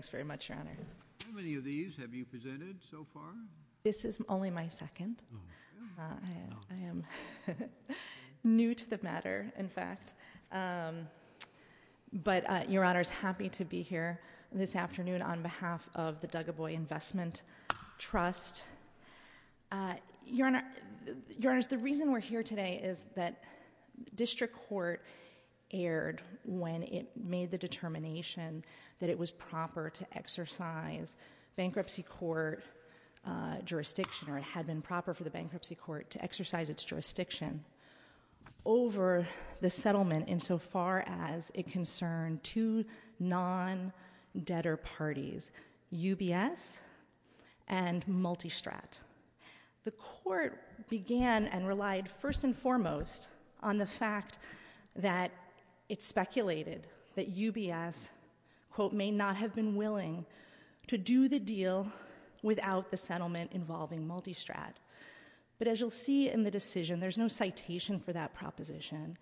Thanks very much, Your Honor. How many of these have you presented so far? This is only my second. I am new to the matter, in fact, but Your Honor is happy to be here this afternoon on behalf of the Dugaboy Investment Trust. The reason we're here today is that District Court erred when it made the determination that it was proper to exercise bankruptcy court jurisdiction, or it had been proper for the bankruptcy court to exercise its jurisdiction, over the settlement insofar as it concerned two non-debtor parties, UBS and Multistrat. The court began and relied first and foremost on the fact that it speculated that UBS had not been willing to do the deal without the settlement involving Multistrat, but as you'll see in the decision, there's no citation for that proposition.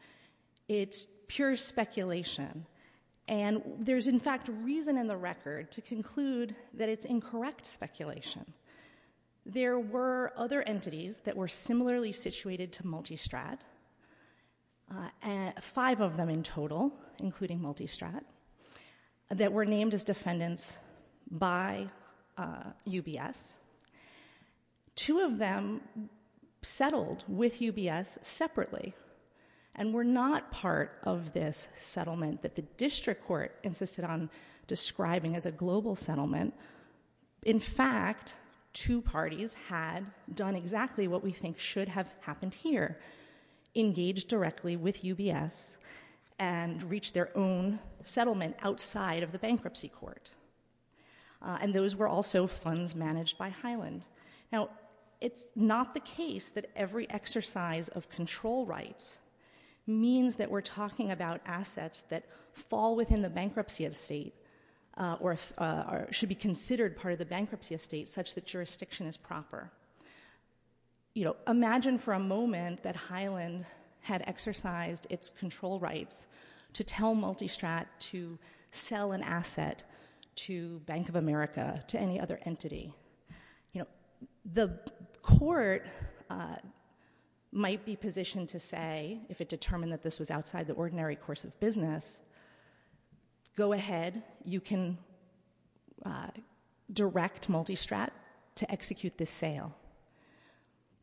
It's pure speculation, and there's in fact reason in the record to conclude that it's incorrect speculation. There were other entities that were similarly situated to Multistrat, five of them in total, including Multistrat, that were named as defendants by UBS. Two of them settled with UBS separately and were not part of this settlement that the District Court insisted on describing as a global settlement. In fact, two parties had done exactly what we think should have happened here, engaged directly with UBS and reached their own settlement outside of the bankruptcy court, and those were also funds managed by Highland. It's not the case that every exercise of control rights means that we're talking about assets that fall within the bankruptcy estate or should be considered part of the bankruptcy estate such that jurisdiction is proper. Imagine for a moment that Highland had exercised its control rights to tell Multistrat to sell an asset to Bank of America, to any other entity. The court might be positioned to say, if it determined that this was outside the ordinary course of business, go ahead, you can direct Multistrat to execute this sale.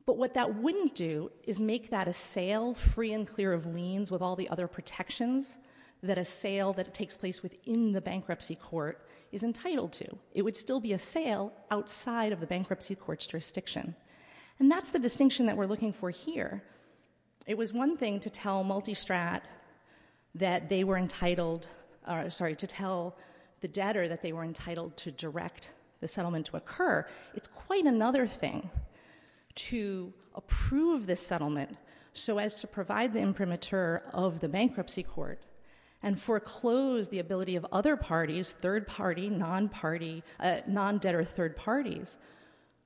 But what that wouldn't do is make that a sale free and clear of liens with all the other protections that a sale that takes place within the bankruptcy court is entitled to. It would still be a sale outside of the bankruptcy court's jurisdiction. And that's the distinction that we're looking for here. It was one thing to tell Multistrat that they were entitled, sorry, to tell the debtor that they were entitled to direct the settlement to occur. It's quite another thing to approve this settlement so as to provide the imprimatur of the bankruptcy court and foreclose the ability of other parties, third party, non-party, non-debtor third parties,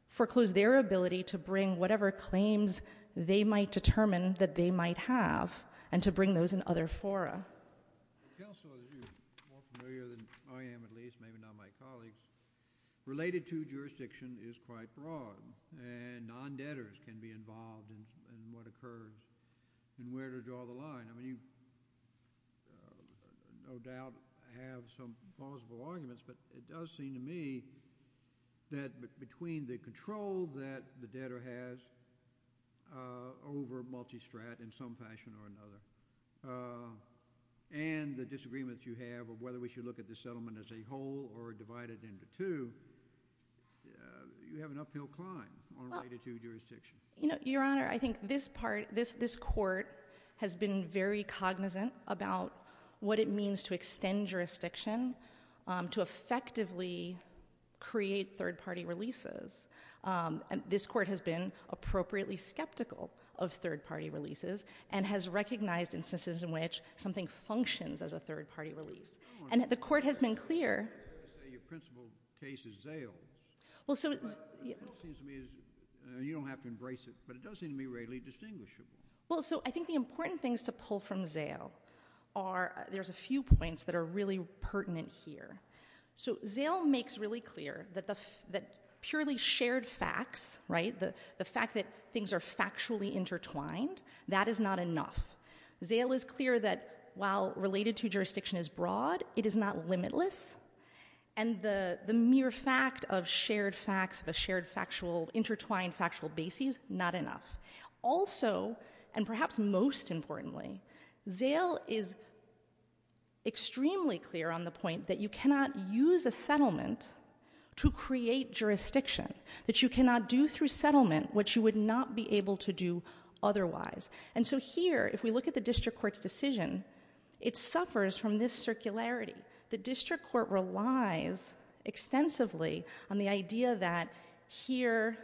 foreclose their ability to bring whatever claims they might determine that they might have and to bring those in other fora. Counselor, you're more familiar than I am at least, maybe not my colleagues, related to jurisdiction is quite broad and non-debtors can be involved in what occurs and where to draw the line. I mean, you no doubt have some plausible arguments, but it does seem to me that between the control that the debtor has over Multistrat in some fashion or another and the disagreements you have of whether we should look at this settlement as a whole or divided into two, you have an uphill climb on right of due jurisdiction. Your Honor, I think this court has been very cognizant about what it means to extend jurisdiction to effectively create third party releases. This court has been appropriately skeptical of third party releases and has recognized instances in which something functions as a third party release. And the court has been clear. Your principle case is zailed. You don't have to embrace it, but it does seem to me readily distinguishable. I think the important things to pull from zail are, there's a few points that are really pertinent here. So zail makes really clear that purely shared facts, right, the fact that things are factually intertwined, that is not enough. Zail is clear that while related to jurisdiction is broad, it is not limitless. And the mere fact of shared facts, of a shared factual, intertwined factual basis, not enough. Also, and perhaps most importantly, zail is extremely clear on the point that you cannot use a settlement to create jurisdiction, that you cannot do through settlement what you would not be able to do otherwise. And so here, if we look at the district court's decision, it suffers from this circularity. The district court relies extensively on the idea that here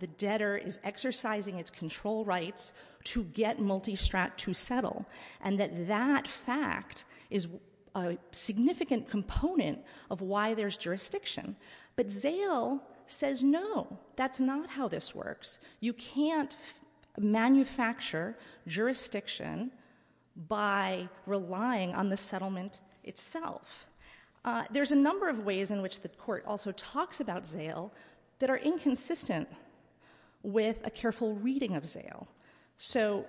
the debtor is exercising its control rights to get Multistrat to settle, and that that fact is a significant component of why there's jurisdiction. But zail says no, that's not how this works. You can't manufacture jurisdiction by relying on the settlement itself. There's a number of ways in which the court also talks about zail that are inconsistent with a careful reading of zail. So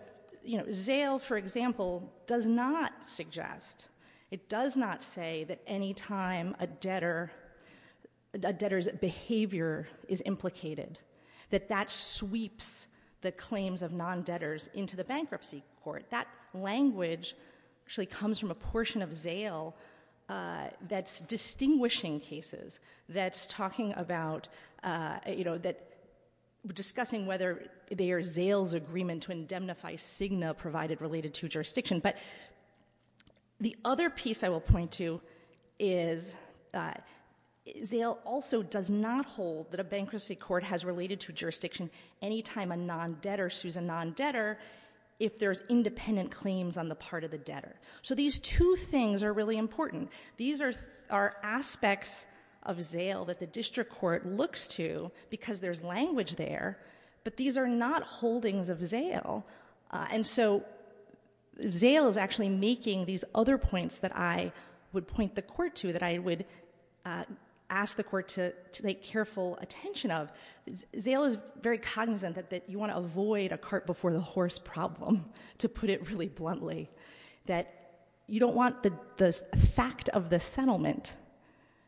zail, for example, does not suggest, it does not say that any time a debtor's behavior is implicated, that that sweeps the claims of non-debtors into the bankruptcy court. That language actually comes from a portion of zail that's distinguishing cases, that's talking about, you know, that, discussing whether they are zail's agreement to indemnify Cigna provided related to jurisdiction, but the other piece I will point to is zail also does not hold that a bankruptcy court has related to jurisdiction any time a non-debtor is a non-debtor if there's independent claims on the part of the debtor. So these two things are really important. These are aspects of zail that the district court looks to because there's language there, but these are not holdings of zail. And so zail is actually making these other points that I would point the court to, that I would ask the court to make careful attention of. Zail is very cognizant that you want to avoid a cart before the horse problem, to put it really bluntly, that you don't want the fact of the settlement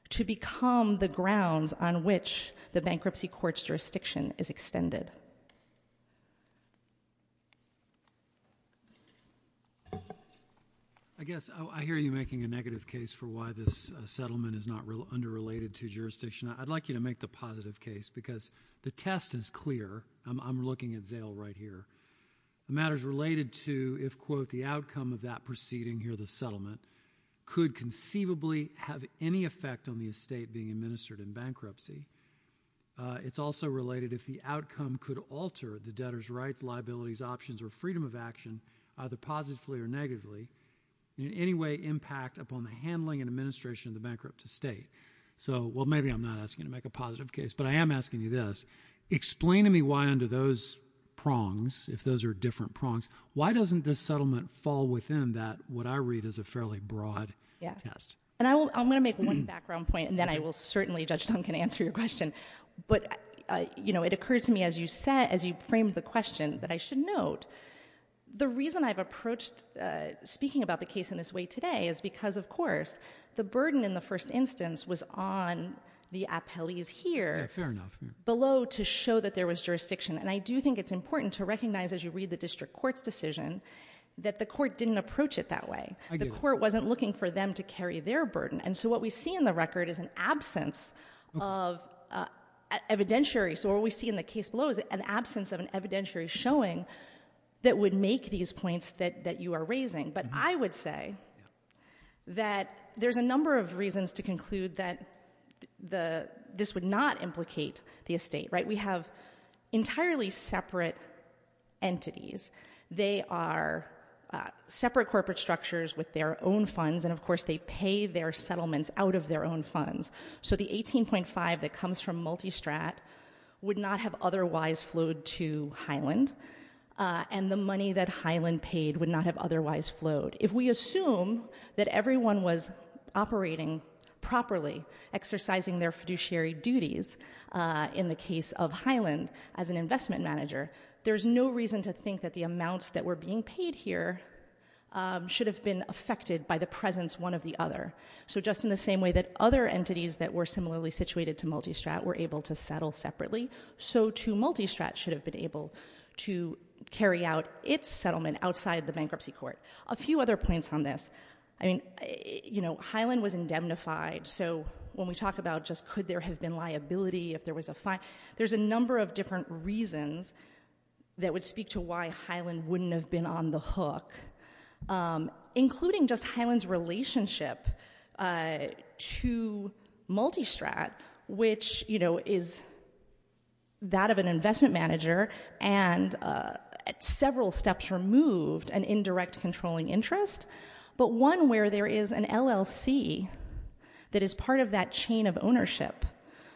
to become the grounds on which the bankruptcy court's jurisdiction is extended. I guess, I hear you making a negative case for why this settlement is not underrelated to jurisdiction. I'd like you to make the positive case because the test is clear. I'm looking at zail right here. The matter's related to if, quote, the outcome of that proceeding here, the settlement, could conceivably have any effect on the estate being administered in bankruptcy. It's also related if the outcome could alter the debtor's rights, liabilities, options, or freedom of action, either positively or negatively, in any way impact upon the handling and administration of the bankrupt estate. Well, maybe I'm not asking you to make a positive case, but I am asking you this. Explain to me why under those prongs, if those are different prongs, why doesn't this settlement fall within that, what I read as a fairly broad test? I'm going to make one background point, and then I will certainly, Judge Duncan, answer your question. It occurred to me as you framed the question that I should note, the reason I've approached speaking about the case in this way today is because, of course, the burden in the first instance was on the appellees here below to show that there was jurisdiction. And I do think it's important to recognize, as you read the district court's decision, that the court didn't approach it that way. The court wasn't looking for them to carry their burden. And so what we see in the record is an absence of evidentiary. So what we see in the case below is an absence of an evidentiary showing that would make these points that you are raising. But I would say that there's a number of reasons to conclude that this would not implicate the estate. We have entirely separate entities. They are separate corporate structures with their own funds, and of course they pay their settlements out of their own funds. So the 18.5 that comes from Multistrat would not have otherwise flowed to Highland, and the money that Highland paid would not have otherwise flowed. If we assume that everyone was operating properly, exercising their fiduciary duties in the case of Highland as an investment manager, there's no reason to think that the amounts that were being paid here should have been affected by the presence one of the other. So just in the same way that other entities that were similarly situated to Multistrat were able to settle separately, so too Multistrat should have been able to carry out its settlement outside the bankruptcy court. A few other points on this. Highland was indemnified, so when we talk about just could there have been liability if there was a fine, there's a number of different reasons that would speak to why Highland wouldn't have been on the hook, including just Highland's relationship to Multistrat, which is a very you know, is that of an investment manager, and several steps removed an indirect controlling interest, but one where there is an LLC that is part of that chain of ownership,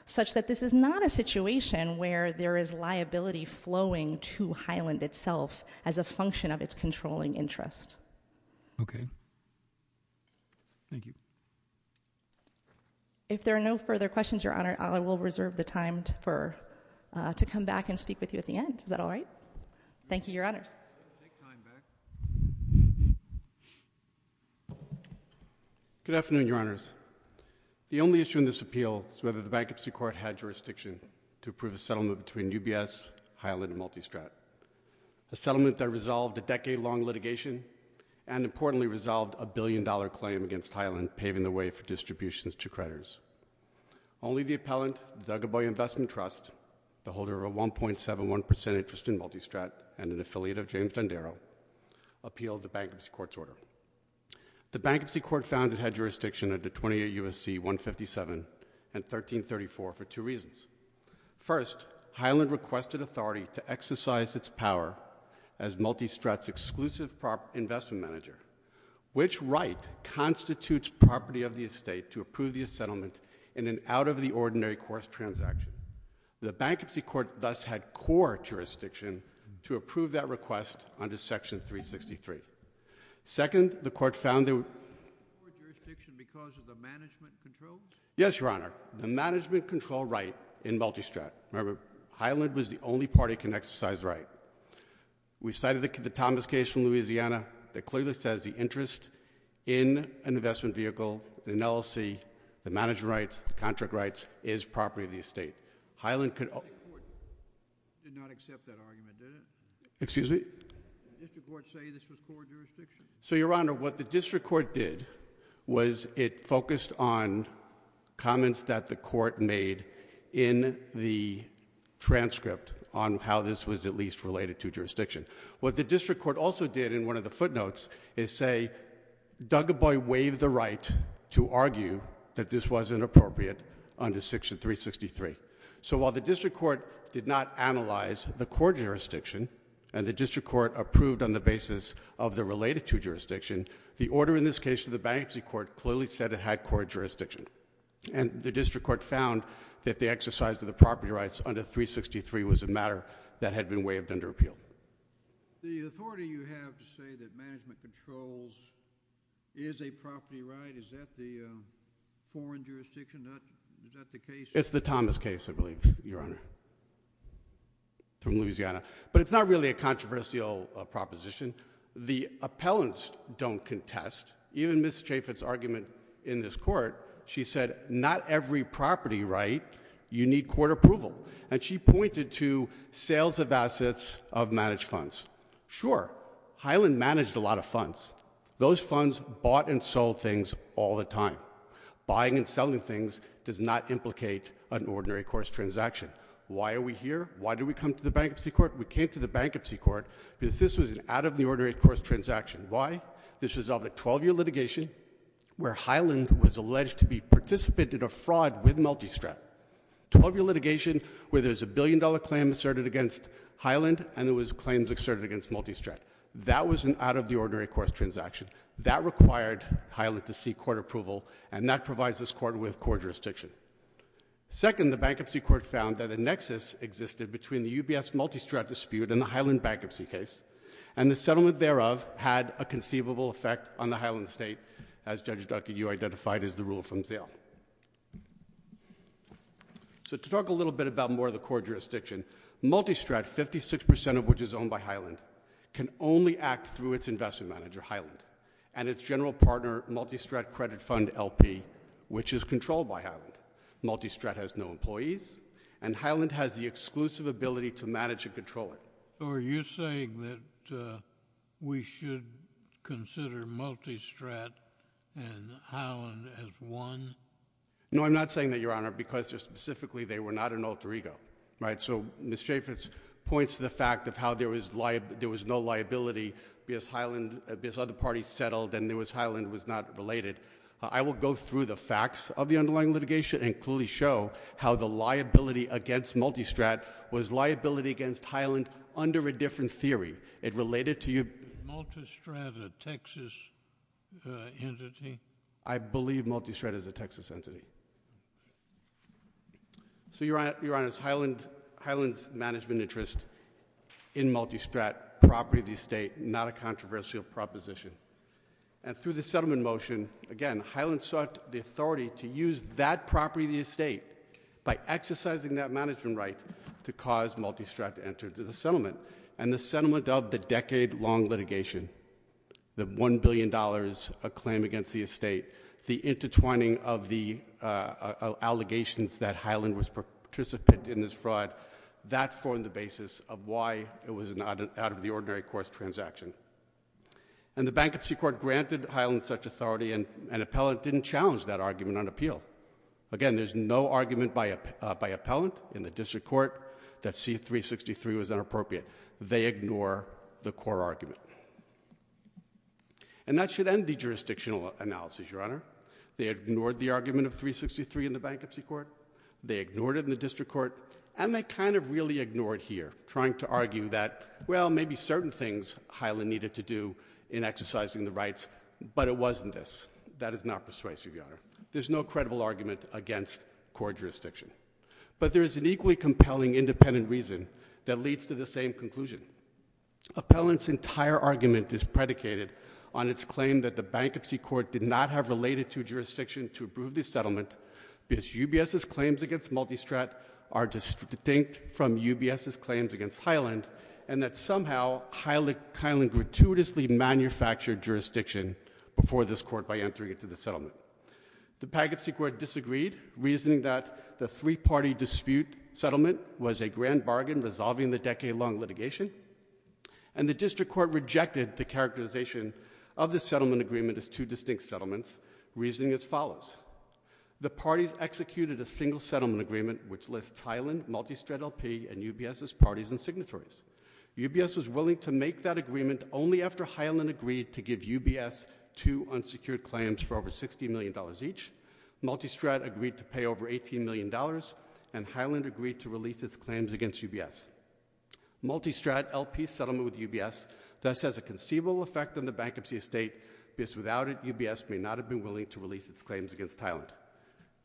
such that this is not a situation where there is liability flowing to Highland itself as a function of its controlling interest. Okay. Thank you. If there are no further questions, Your Honor, I will reserve the time to come back and speak with you at the end. Is that all right? Thank you, Your Honors. Good afternoon, Your Honors. The only issue in this appeal is whether the bankruptcy court had jurisdiction to approve a settlement between UBS, Highland, and Multistrat, a settlement that resolved a decade-long litigation, and importantly resolved a billion-dollar claim against Highland, paving the way for distributions to creditors. Only the appellant, the Dugaboy Investment Trust, the holder of a 1.71 percent interest in Multistrat and an affiliate of James Dondero, appealed the bankruptcy court's order. The bankruptcy court found it had jurisdiction under 28 U.S.C. 157 and 1334 for two reasons. First, Highland requested authority to exercise its power as Multistrat's exclusive investment manager. Which right constitutes property of the estate to approve the settlement in an out-of-the-ordinary course transaction? The bankruptcy court thus had core jurisdiction to approve that request under Section 363. Second, the court found that— Core jurisdiction because of the management control? Yes, Your Honor. The management control right in Multistrat. Remember, Highland was the the interest in an investment vehicle, an LLC, the management rights, the contract rights, is property of the estate. Highland could— The district court did not accept that argument, did it? Excuse me? Did the district court say this was core jurisdiction? So, Your Honor, what the district court did was it focused on comments that the court made in the transcript on how this was at least related to jurisdiction. What the district court also did in one of the footnotes is say, Dougaboy waived the right to argue that this wasn't appropriate under Section 363. So while the district court did not analyze the core jurisdiction and the district court approved on the basis of the related to jurisdiction, the order in this case to the bankruptcy court clearly said it had core jurisdiction. And the district court found that the exercise of the property rights under 363 was a matter that had been waived under appeal. The authority you have to say that management controls is a property right, is that the foreign jurisdiction? Is that the case? It's the Thomas case, I believe, Your Honor, from Louisiana. But it's not really a controversial proposition. The appellants don't contest. Even Ms. Chaffet's argument in this court, she said, not every property right, you need court approval. And she pointed to sales of managed funds. Sure, Highland managed a lot of funds. Those funds bought and sold things all the time. Buying and selling things does not implicate an ordinary course transaction. Why are we here? Why did we come to the bankruptcy court? We came to the bankruptcy court because this was an out-of-the-ordinary course transaction. Why? This was of a 12-year litigation where Highland was alleged to be a participant in a fraud with Multistrat. 12-year litigation where there's a billion-dollar claim asserted against Highland and there was claims asserted against Multistrat. That was an out-of-the-ordinary course transaction. That required Highland to seek court approval, and that provides this court with court jurisdiction. Second, the bankruptcy court found that a nexus existed between the UBS-Multistrat dispute and the Highland bankruptcy case, and the settlement thereof had a conceivable effect on the Highland State, as Judge Duncan, you identified, as the rule from Zell. So to talk a little bit about more of the court jurisdiction, Multistrat, 56% of which is owned by Highland, can only act through its investment manager, Highland, and its general partner, Multistrat Credit Fund, LP, which is controlled by Highland. Multistrat has no employees, and Highland has the exclusive ability to manage and control it. So are you saying that we should consider Multistrat and Highland as one? No, I'm not saying that, Your Honor, because specifically they were not an alter ego, right? So Ms. Chaffetz points to the fact of how there was no liability because Highland, because other parties settled and because Highland was not related. I will go through the facts of the underlying litigation and clearly show how the liability against Multistrat was liability against Highland under a different theory. It related to your— Multistrat a Texas entity? I believe Multistrat is a Texas entity. So, Your Honor, Highland's management interest in Multistrat, property of the estate, not a controversial proposition. And through the settlement motion, again, Highland sought the authority to use that property of the Multistrat to enter into the settlement. And the settlement of the decade-long litigation, the $1 billion claim against the estate, the intertwining of the allegations that Highland was a participant in this fraud, that formed the basis of why it was an out-of-the-ordinary course transaction. And the Bankruptcy Court granted Highland such authority, and an appellant didn't challenge that argument on appeal. Again, there's no argument by appellant in the District Court that C-363 was inappropriate. They ignore the core argument. And that should end the jurisdictional analysis, Your Honor. They ignored the argument of C-363 in the Bankruptcy Court. They ignored it in the District Court. And they kind of really ignored it here, trying to argue that, well, maybe certain things Highland needed to do in exercising the rights, but it wasn't this. That is not persuasive, Your Honor. There's no credible argument against core jurisdiction. But there is an equally compelling independent reason that leads to the same conclusion. Appellant's entire argument is predicated on its claim that the Bankruptcy Court did not have related to jurisdiction to approve the settlement, because UBS's claims against Multistrat are distinct from UBS's claims against Highland, and that somehow Highland gratuitously manufactured jurisdiction before this Court by entering into the settlement. The Bankruptcy Court disagreed, reasoning that the three-party dispute settlement was a grand bargain resolving the decade-long litigation. And the District Court rejected the characterization of the settlement agreement as two distinct settlements, reasoning as follows. The parties executed a single settlement agreement which lists Highland, Multistrat LP, and UBS's parties and signatories. UBS was willing to make that agreement only after it secured claims for over $60 million each. Multistrat agreed to pay over $18 million, and Highland agreed to release its claims against UBS. Multistrat LP's settlement with UBS thus has a conceivable effect on the bankruptcy estate, because without it, UBS may not have been willing to release its claims against Highland.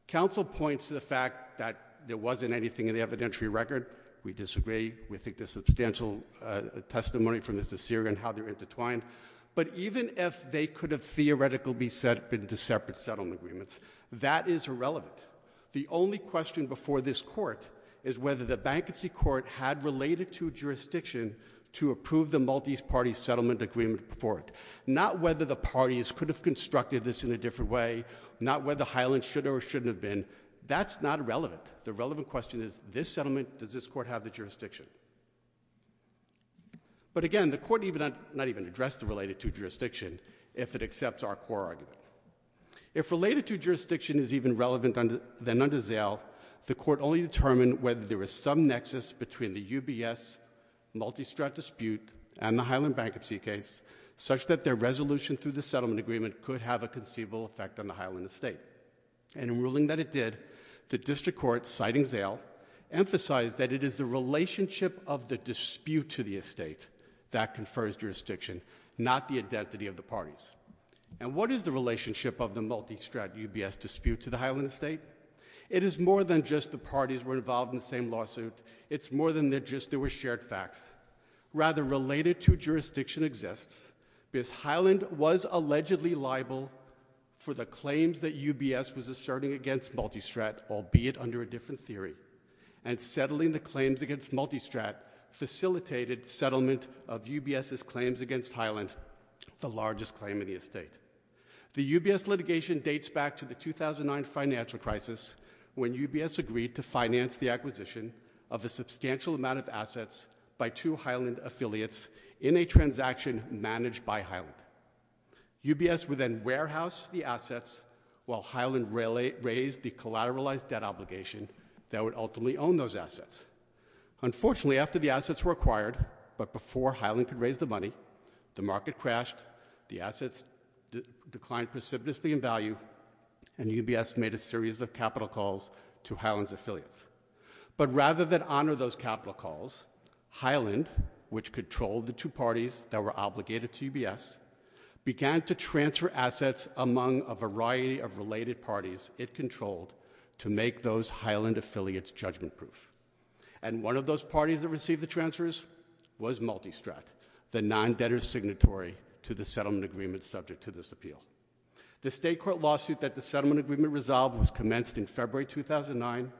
Counsel points to the fact that there wasn't anything in the evidentiary record. We disagree. We think there's substantial testimony from Mr. Seager in how they're intertwined. But even if they could have theoretically been separate settlement agreements, that is irrelevant. The only question before this Court is whether the Bankruptcy Court had related to jurisdiction to approve the multi-party settlement agreement before it, not whether the parties could have constructed this in a different way, not whether Highland should or shouldn't have been. That's not relevant. The relevant question is, this settlement, does this Court have the jurisdiction? But again, the Court did not even address the related to jurisdiction if it accepts our core argument. If related to jurisdiction is even relevant then under Zale, the Court only determined whether there was some nexus between the UBS-Multistrat dispute and the Highland bankruptcy case such that their resolution through the settlement agreement could have a conceivable effect on the Highland estate. And in ruling that it did, the District Court, citing Zale, emphasized that it is the relationship of the dispute to the estate that confers jurisdiction, not the identity of the parties. And what is the relationship of the Multistrat UBS dispute to the Highland estate? It is more than just the parties were involved in the same lawsuit. It's more than just there were shared facts. Rather, related to jurisdiction exists because Highland was allegedly liable for the claims that UBS was asserting against Multistrat, albeit under a different theory. And settling the claims against Multistrat facilitated settlement of UBS's claims against Highland, the largest claim in the estate. The UBS litigation dates back to the 2009 financial crisis when UBS agreed to finance the acquisition of a substantial amount of assets by two Highland affiliates in a transaction managed by Highland. UBS would then warehouse the assets while Highland raised the collateralized debt obligation that would ultimately own those assets. Unfortunately, after the assets were acquired, but before Highland could raise the money, the market crashed, the assets declined precipitously in value, and UBS made a series of capital calls to Highland's affiliates. But rather than honor those capital calls, Highland, which controlled the two parties that were obligated to UBS, began to transfer assets among a variety of related parties it controlled to make those Highland affiliates judgment-proof. And one of those parties that received the transfers was Multistrat, the non-debtor signatory to the settlement agreement subject to this appeal. The state court lawsuit that the settlement agreement resolved was commenced in February 2009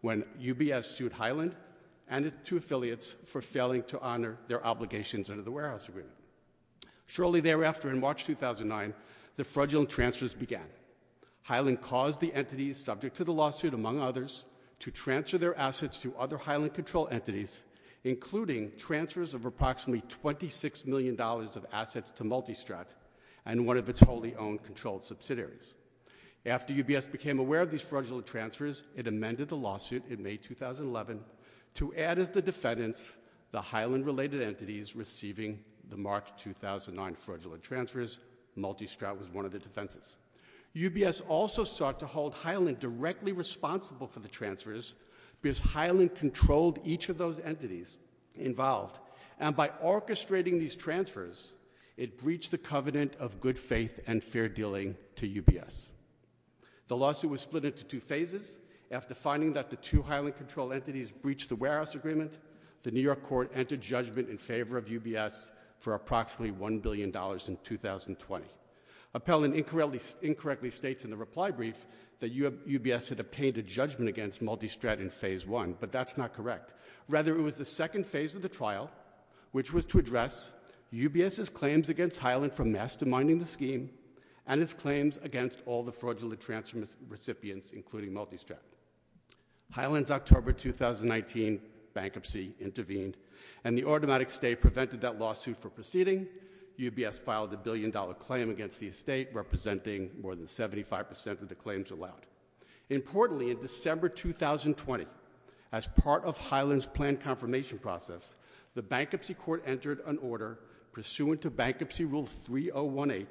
when UBS sued Highland and its two affiliates for failing to honor their obligations under the warehouse agreement. Shortly thereafter, in March 2009, the fraudulent transfers began. Highland caused the entities subject to the lawsuit, among others, to transfer their assets to other Highland-controlled entities, including transfers of approximately $26 million of assets to Multistrat and one of its wholly-owned controlled subsidiaries. After UBS became aware of these fraudulent transfers, it amended the lawsuit in May 2011 to add as the defendants the Highland-related entities receiving the March 2009 fraudulent transfers. Multistrat was one of the defenses. UBS also sought to hold Highland directly responsible for the transfers because Highland controlled each of those entities involved. And by orchestrating these transfers, it breached the covenant of good faith and fair dealing to UBS. The lawsuit was split into two phases after finding that the two Highland-controlled entities breached the warehouse agreement, the New York court entered judgment in favor of UBS for approximately $1 billion in 2020. Appellant incorrectly states in the reply brief that UBS had obtained a judgment against Multistrat in phase one, but that's not correct. Rather, it was the second phase of the trial, which was to address UBS's claims against Highland for masterminding the scheme and its claims against all the fraudulent transfer recipients, including Multistrat. Highland's October 2019 bankruptcy intervened, and the automatic stay prevented that lawsuit from proceeding. UBS filed a billion-dollar claim against the estate, representing more than 75% of the claims allowed. Importantly, in December 2020, as part of Highland's planned confirmation process, the bankruptcy court entered an order pursuant to Bankruptcy Rule 3018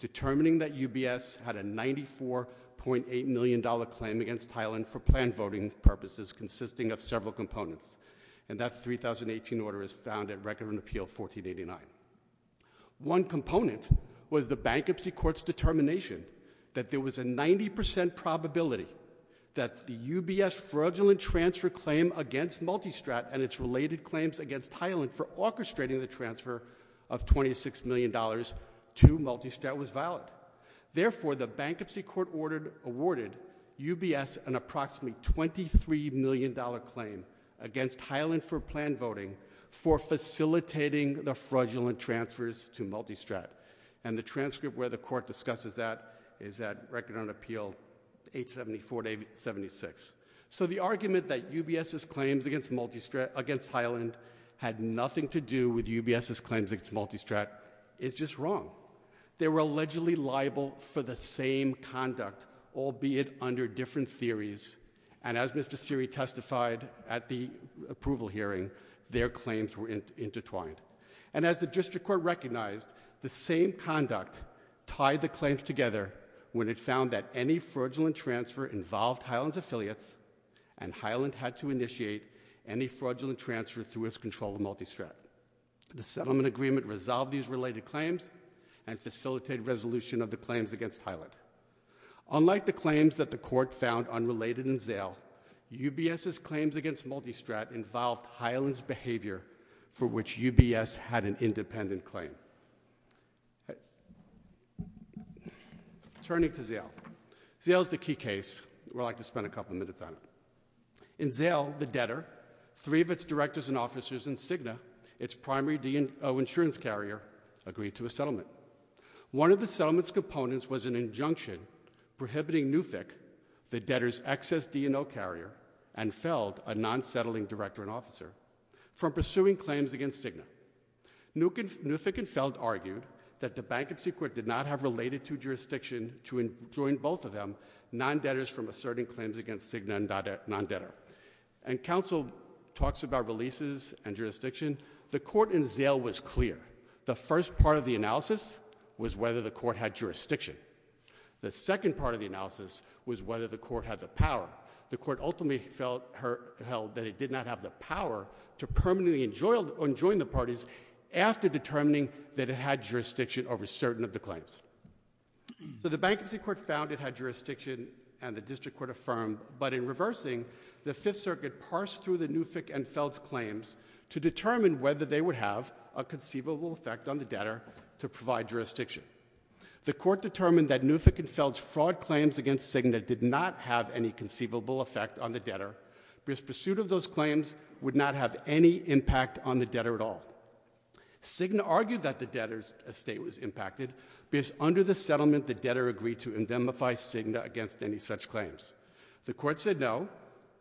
determining that UBS had a $94.8 million claim against Highland for planned voting purposes consisting of several components, and that 3018 order is found at Record and Appeal 1489. One component was the bankruptcy court's determination that there was a 90% probability that the UBS fraudulent transfer claim against Multistrat and its related claims against Highland for the bankruptcy court awarded UBS an approximately $23 million claim against Highland for planned voting for facilitating the fraudulent transfers to Multistrat, and the transcript where the court discusses that is at Record and Appeal 874-76. So the argument that UBS's claims against Highland had nothing to do with UBS's claims against Multistrat is just wrong. They were allegedly liable for the same conduct, albeit under different theories, and as Mr. Seery testified at the approval hearing, their claims were intertwined. And as the district court recognized, the same conduct tied the claims together when it found that any fraudulent transfer involved Highland's affiliates and Highland had to initiate any fraudulent transfer through its control of Multistrat. The settlement agreement resolved these related claims and facilitated resolution of the claims against Highland. Unlike the claims that the court found unrelated in Zale, UBS's claims against Multistrat involved Highland's behavior for which UBS had an independent claim. Turning to Zale. Zale is the key case. We'd like to spend a couple minutes on it. In Zale, the debtor, three of its directors and officers, and Cigna, its primary D&O insurance carrier, agreed to a settlement. One of the settlement's components was an injunction prohibiting Newfick, the debtor's excess D&O carrier, and Feld, a non-settling director and officer, from pursuing claims against Cigna. Newfick and Feld argued that the bankruptcy court did not have related to jurisdiction to enjoin both of them, non-debtors from asserting claims against Cigna and non-debtor. And counsel talks about releases and jurisdiction. The court in Zale was clear. The first part of the analysis was whether the court had jurisdiction. The second part of the analysis was whether the court had the power. The court ultimately held that it did not have the power to permanently enjoin the parties after determining that it had jurisdiction over certain of the claims. So the bankruptcy court found it had jurisdiction and the district court affirmed. But in reversing, the Fifth Circuit parsed through the Newfick and Feld's claims to determine whether they would have a conceivable effect on the debtor to provide jurisdiction. The court determined that Newfick and Feld's fraud claims against Cigna did not have any conceivable effect on the debtor because pursuit of those claims would not have any impact on the debtor at all. Cigna argued that the debtor's estate was impacted because under the settlement the debtor agreed to indemnify Cigna against any such claims. The court said no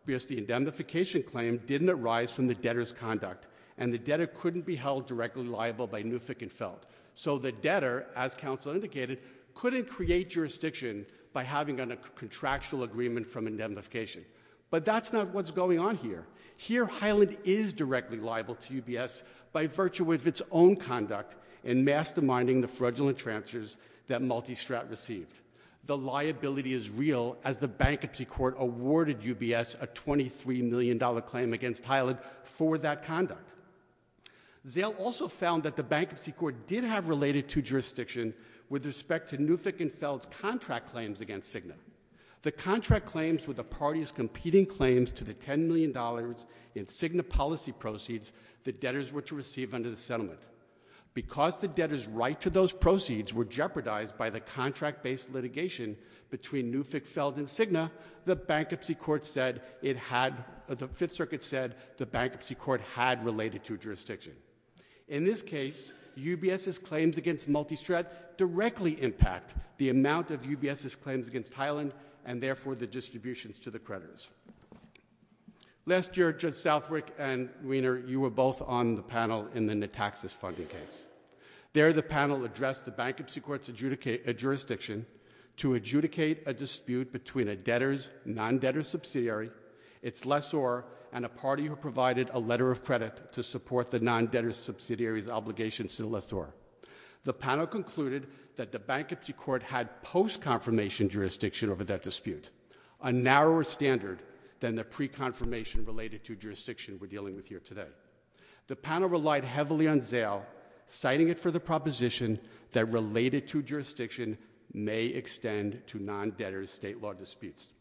because the indemnification claim didn't arise from the debtor's conduct and the debtor couldn't be held directly liable by Newfick and Feld. So the debtor, as counsel indicated, couldn't create jurisdiction by having a contractual agreement from indemnification. But that's not what's going on here. Here Highland is fraudulent transfers that Multistrat received. The liability is real as the bankruptcy court awarded UBS a $23 million claim against Highland for that conduct. Zell also found that the bankruptcy court did have related to jurisdiction with respect to Newfick and Feld's contract claims against Cigna. The contract claims were the party's competing claims to the $10 million in Cigna policy proceeds the debtors were to receive under the settlement. Because the debtor's right to those proceeds were jeopardized by the contract-based litigation between Newfick, Feld, and Cigna, the bankruptcy court said it had, the Fifth Circuit said the bankruptcy court had related to jurisdiction. In this case, UBS's claims against Multistrat directly impact the amount of UBS's claims against Highland and therefore the distributions to the creditors. Last year, Judge Southwick and Weiner, you were both on the panel in the taxes funding case. There the panel addressed the bankruptcy court's jurisdiction to adjudicate a dispute between a debtor's non-debtor subsidiary, its lessor, and a party who provided a letter of credit to support the non-debtor subsidiary's obligation to the lessor. The panel concluded that the bankruptcy court had post-confirmation jurisdiction over that dispute, a narrower standard than the pre-confirmation related to jurisdiction we're dealing with here today. The panel relied heavily on Zale, citing it for the proposition that related to jurisdiction may extend to non-debtors' state law disputes.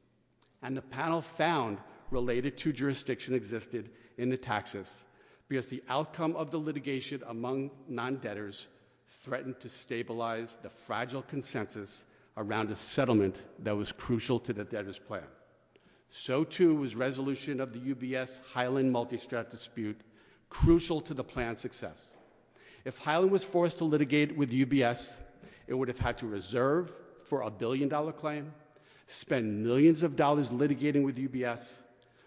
And the panel found related to jurisdiction existed in the taxes because the outcome of the litigation among non-debtors threatened to stabilize the fragile consensus around a settlement that was crucial to the debtors' plan. So too was resolution of the UBS-Highland multi-strat dispute crucial to the plan's success. If Highland was forced to litigate with UBS, it would have had to reserve for a billion dollar claim, spend millions of dollars litigating with UBS,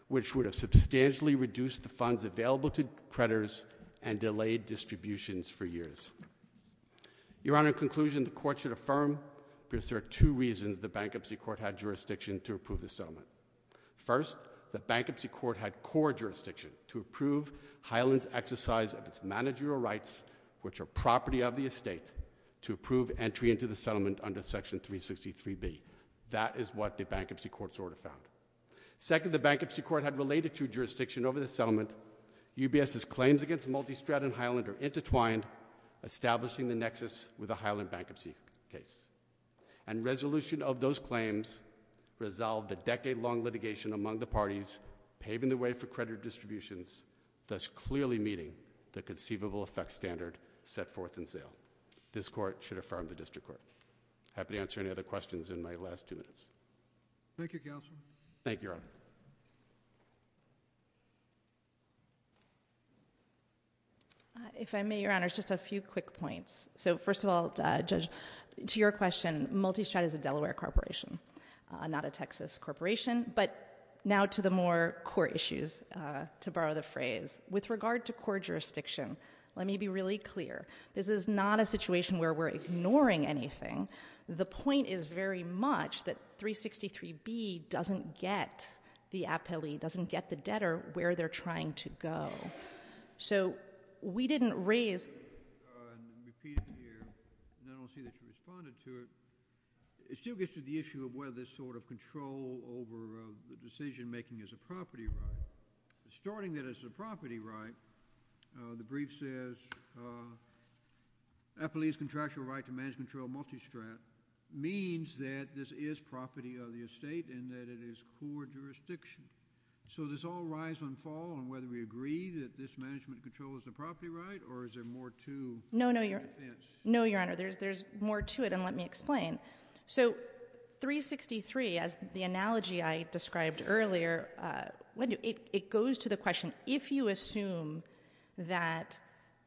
which would have substantially reduced the funds available to creditors and delayed distributions for years. Your Honor, in conclusion, the court should affirm because there are two reasons the bankruptcy court had jurisdiction to approve the settlement. First, the bankruptcy court had core jurisdiction to approve Highland's exercise of its managerial rights, which are property of the estate, to approve entry into the settlement under Section 363B. That is what the bankruptcy court's order found. Second, the bankruptcy court had related to jurisdiction over the settlement. UBS's claims against multi-strat in Highland are intertwined, establishing the nexus with the Highland bankruptcy case. And resolution of those claims resolved the decade-long litigation among the parties, paving the way for creditor distributions, thus clearly meeting the conceivable effects standard set forth in sale. This court should affirm the district court. Happy to answer any other questions in my last two minutes. If I may, Your Honor, just a few quick points. So first of all, Judge, to your question, multi-strat is a Delaware corporation, not a Texas corporation. But now to the more core issues, to borrow the phrase. With regard to core jurisdiction, let me be really clear. This is not a situation where we're ignoring anything. The point is very much that 363B doesn't get the appellee, doesn't get the debtor where they're trying to go. So we didn't raise... I'm repeating it here, and I don't see that you responded to it. It still gets to the issue of whether this sort of control over the decision-making is a property right. Starting that it's a property right, the brief says, appellee's contractual right to manage and control multi-strat means that this is property of the estate and that it is core jurisdiction. So does all rise and fall on whether we agree that this management control is a property right or is there more to... No, no, Your Honor. There's more to it, and let me explain. So 363, as the analogy I described earlier, it goes to the question, if you assume that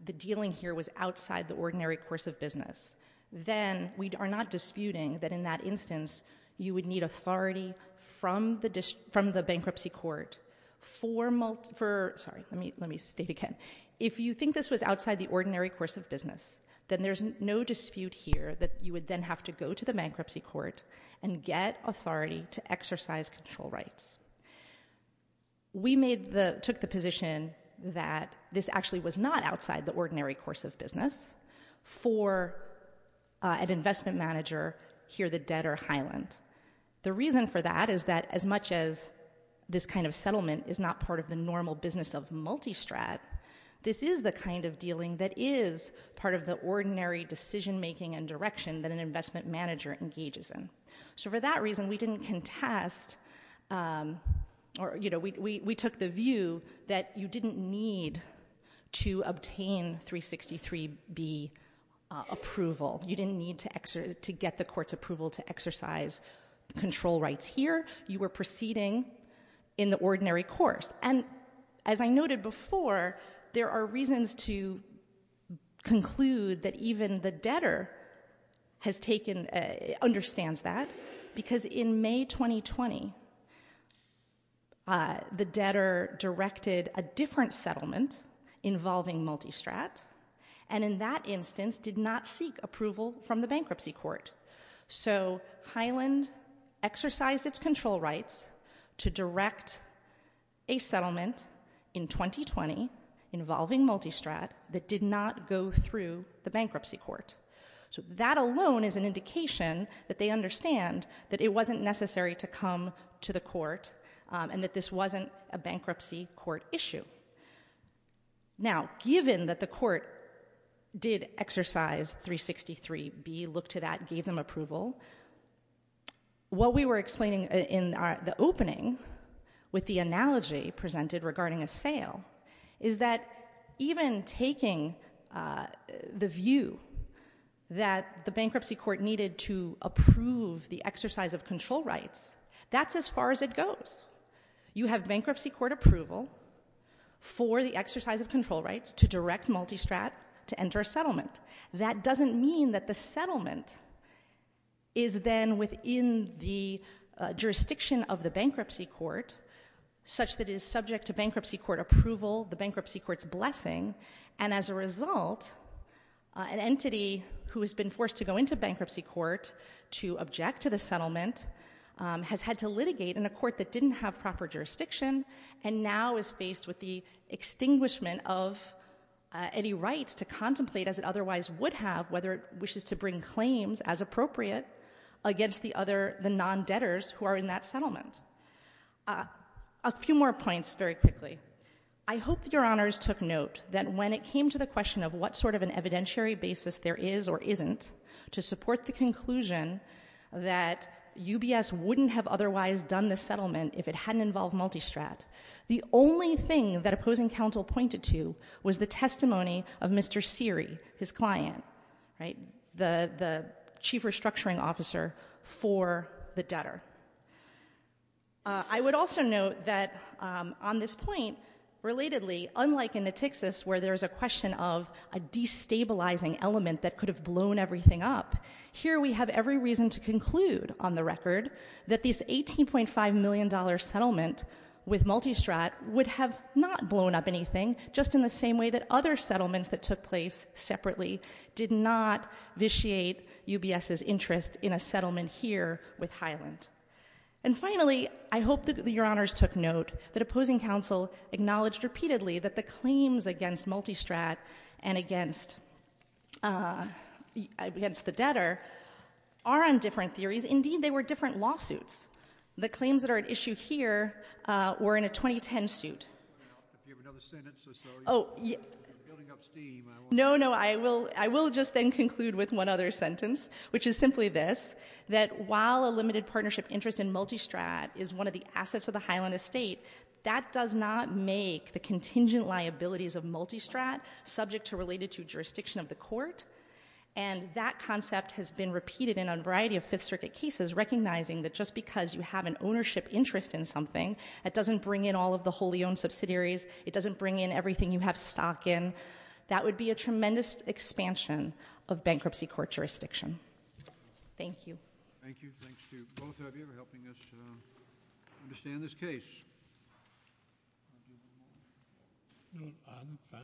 the dealing here was outside the ordinary course of business, then we are not disputing that in that instance you would need authority from the bankruptcy court for... sorry, let me state again. If you think this was outside the ordinary course of business, then there's no dispute here that you would then have to go to the bankruptcy court and get authority to exercise control rights. We made the... took the position that this actually was not outside the ordinary course of business for an investment manager here, the debtor highland. The reason for that is that as much as this kind of settlement is not part of the normal business of multi-strat, this is the kind of dealing that is part of the ordinary decision-making and direction that an investment manager engages in. So for that reason, we didn't contest... we took the view that you didn't need to obtain 363B approval. You didn't need to get the court's approval to exercise control rights here. You were proceeding in the ordinary course. And as I noted before, there are reasons to conclude that even the debtor has taken... understands that because in May 2020, the debtor directed a different settlement involving multi-strat, and in that instance did not seek approval from the bankruptcy court. So Highland exercised its control rights to direct a settlement in 2020 involving multi-strat that did not go through the bankruptcy court. So that alone is an indication that they understand that it wasn't necessary to come to the court and that this wasn't a bankruptcy court issue. Now given that the court did exercise 363B, looked at that, gave them approval, what we were explaining in the opening with the analogy presented regarding a sale is that even taking the view that the bankruptcy court needed to approve the exercise of control rights, that's as far as it goes. You have bankruptcy court approval for the exercise of control rights to direct multi-strat to enter a settlement. That doesn't mean that the settlement is then within the jurisdiction of the bankruptcy court, such that it is subject to bankruptcy court approval, the bankruptcy court's blessing, and as a result, an entity who has been forced to go into bankruptcy court to object to the settlement has had to litigate in a court that didn't have proper jurisdiction and now is faced with the extinguishment of any rights to contemplate as it otherwise would have, whether it wishes to bring claims as appropriate against the non-debtors who are in that settlement. A few more points very quickly. I hope that your honors took note that when it came to the question of what sort of an evidentiary basis there is or isn't to support the conclusion that UBS wouldn't have otherwise done the settlement if it hadn't involved multi-strat, the only thing that opposing counsel pointed to was the testimony of Mr. Seary, his client, the chief restructuring officer for the debtor. I would also note that on this point, relatedly, unlike in the Texas where there is a question of a destabilizing element that could have blown everything up, here we have every reason to conclude on the record that this $18.5 million settlement with multi-strat would have not blown up anything, just in the same way that other settlements that took place separately did not vitiate UBS's interest in a settlement here with Highland. And finally, I hope that your honors took note that opposing counsel acknowledged repeatedly that the claims against multi-strat and against the debtor are on different theories. Indeed, they were a 2010 suit. No, no, I will just then conclude with one other sentence, which is simply this, that while a limited partnership interest in multi-strat is one of the assets of the Highland estate, that does not make the contingent liabilities of multi-strat subject to or related to jurisdiction of the court. And that concept has been repeated in a variety of Fifth Circuit cases recognizing that just because you have an ownership interest in something, that doesn't bring in all of the wholly owned subsidiaries, it doesn't bring in everything you have stock in. That would be a tremendous expansion of bankruptcy court jurisdiction. Thank you.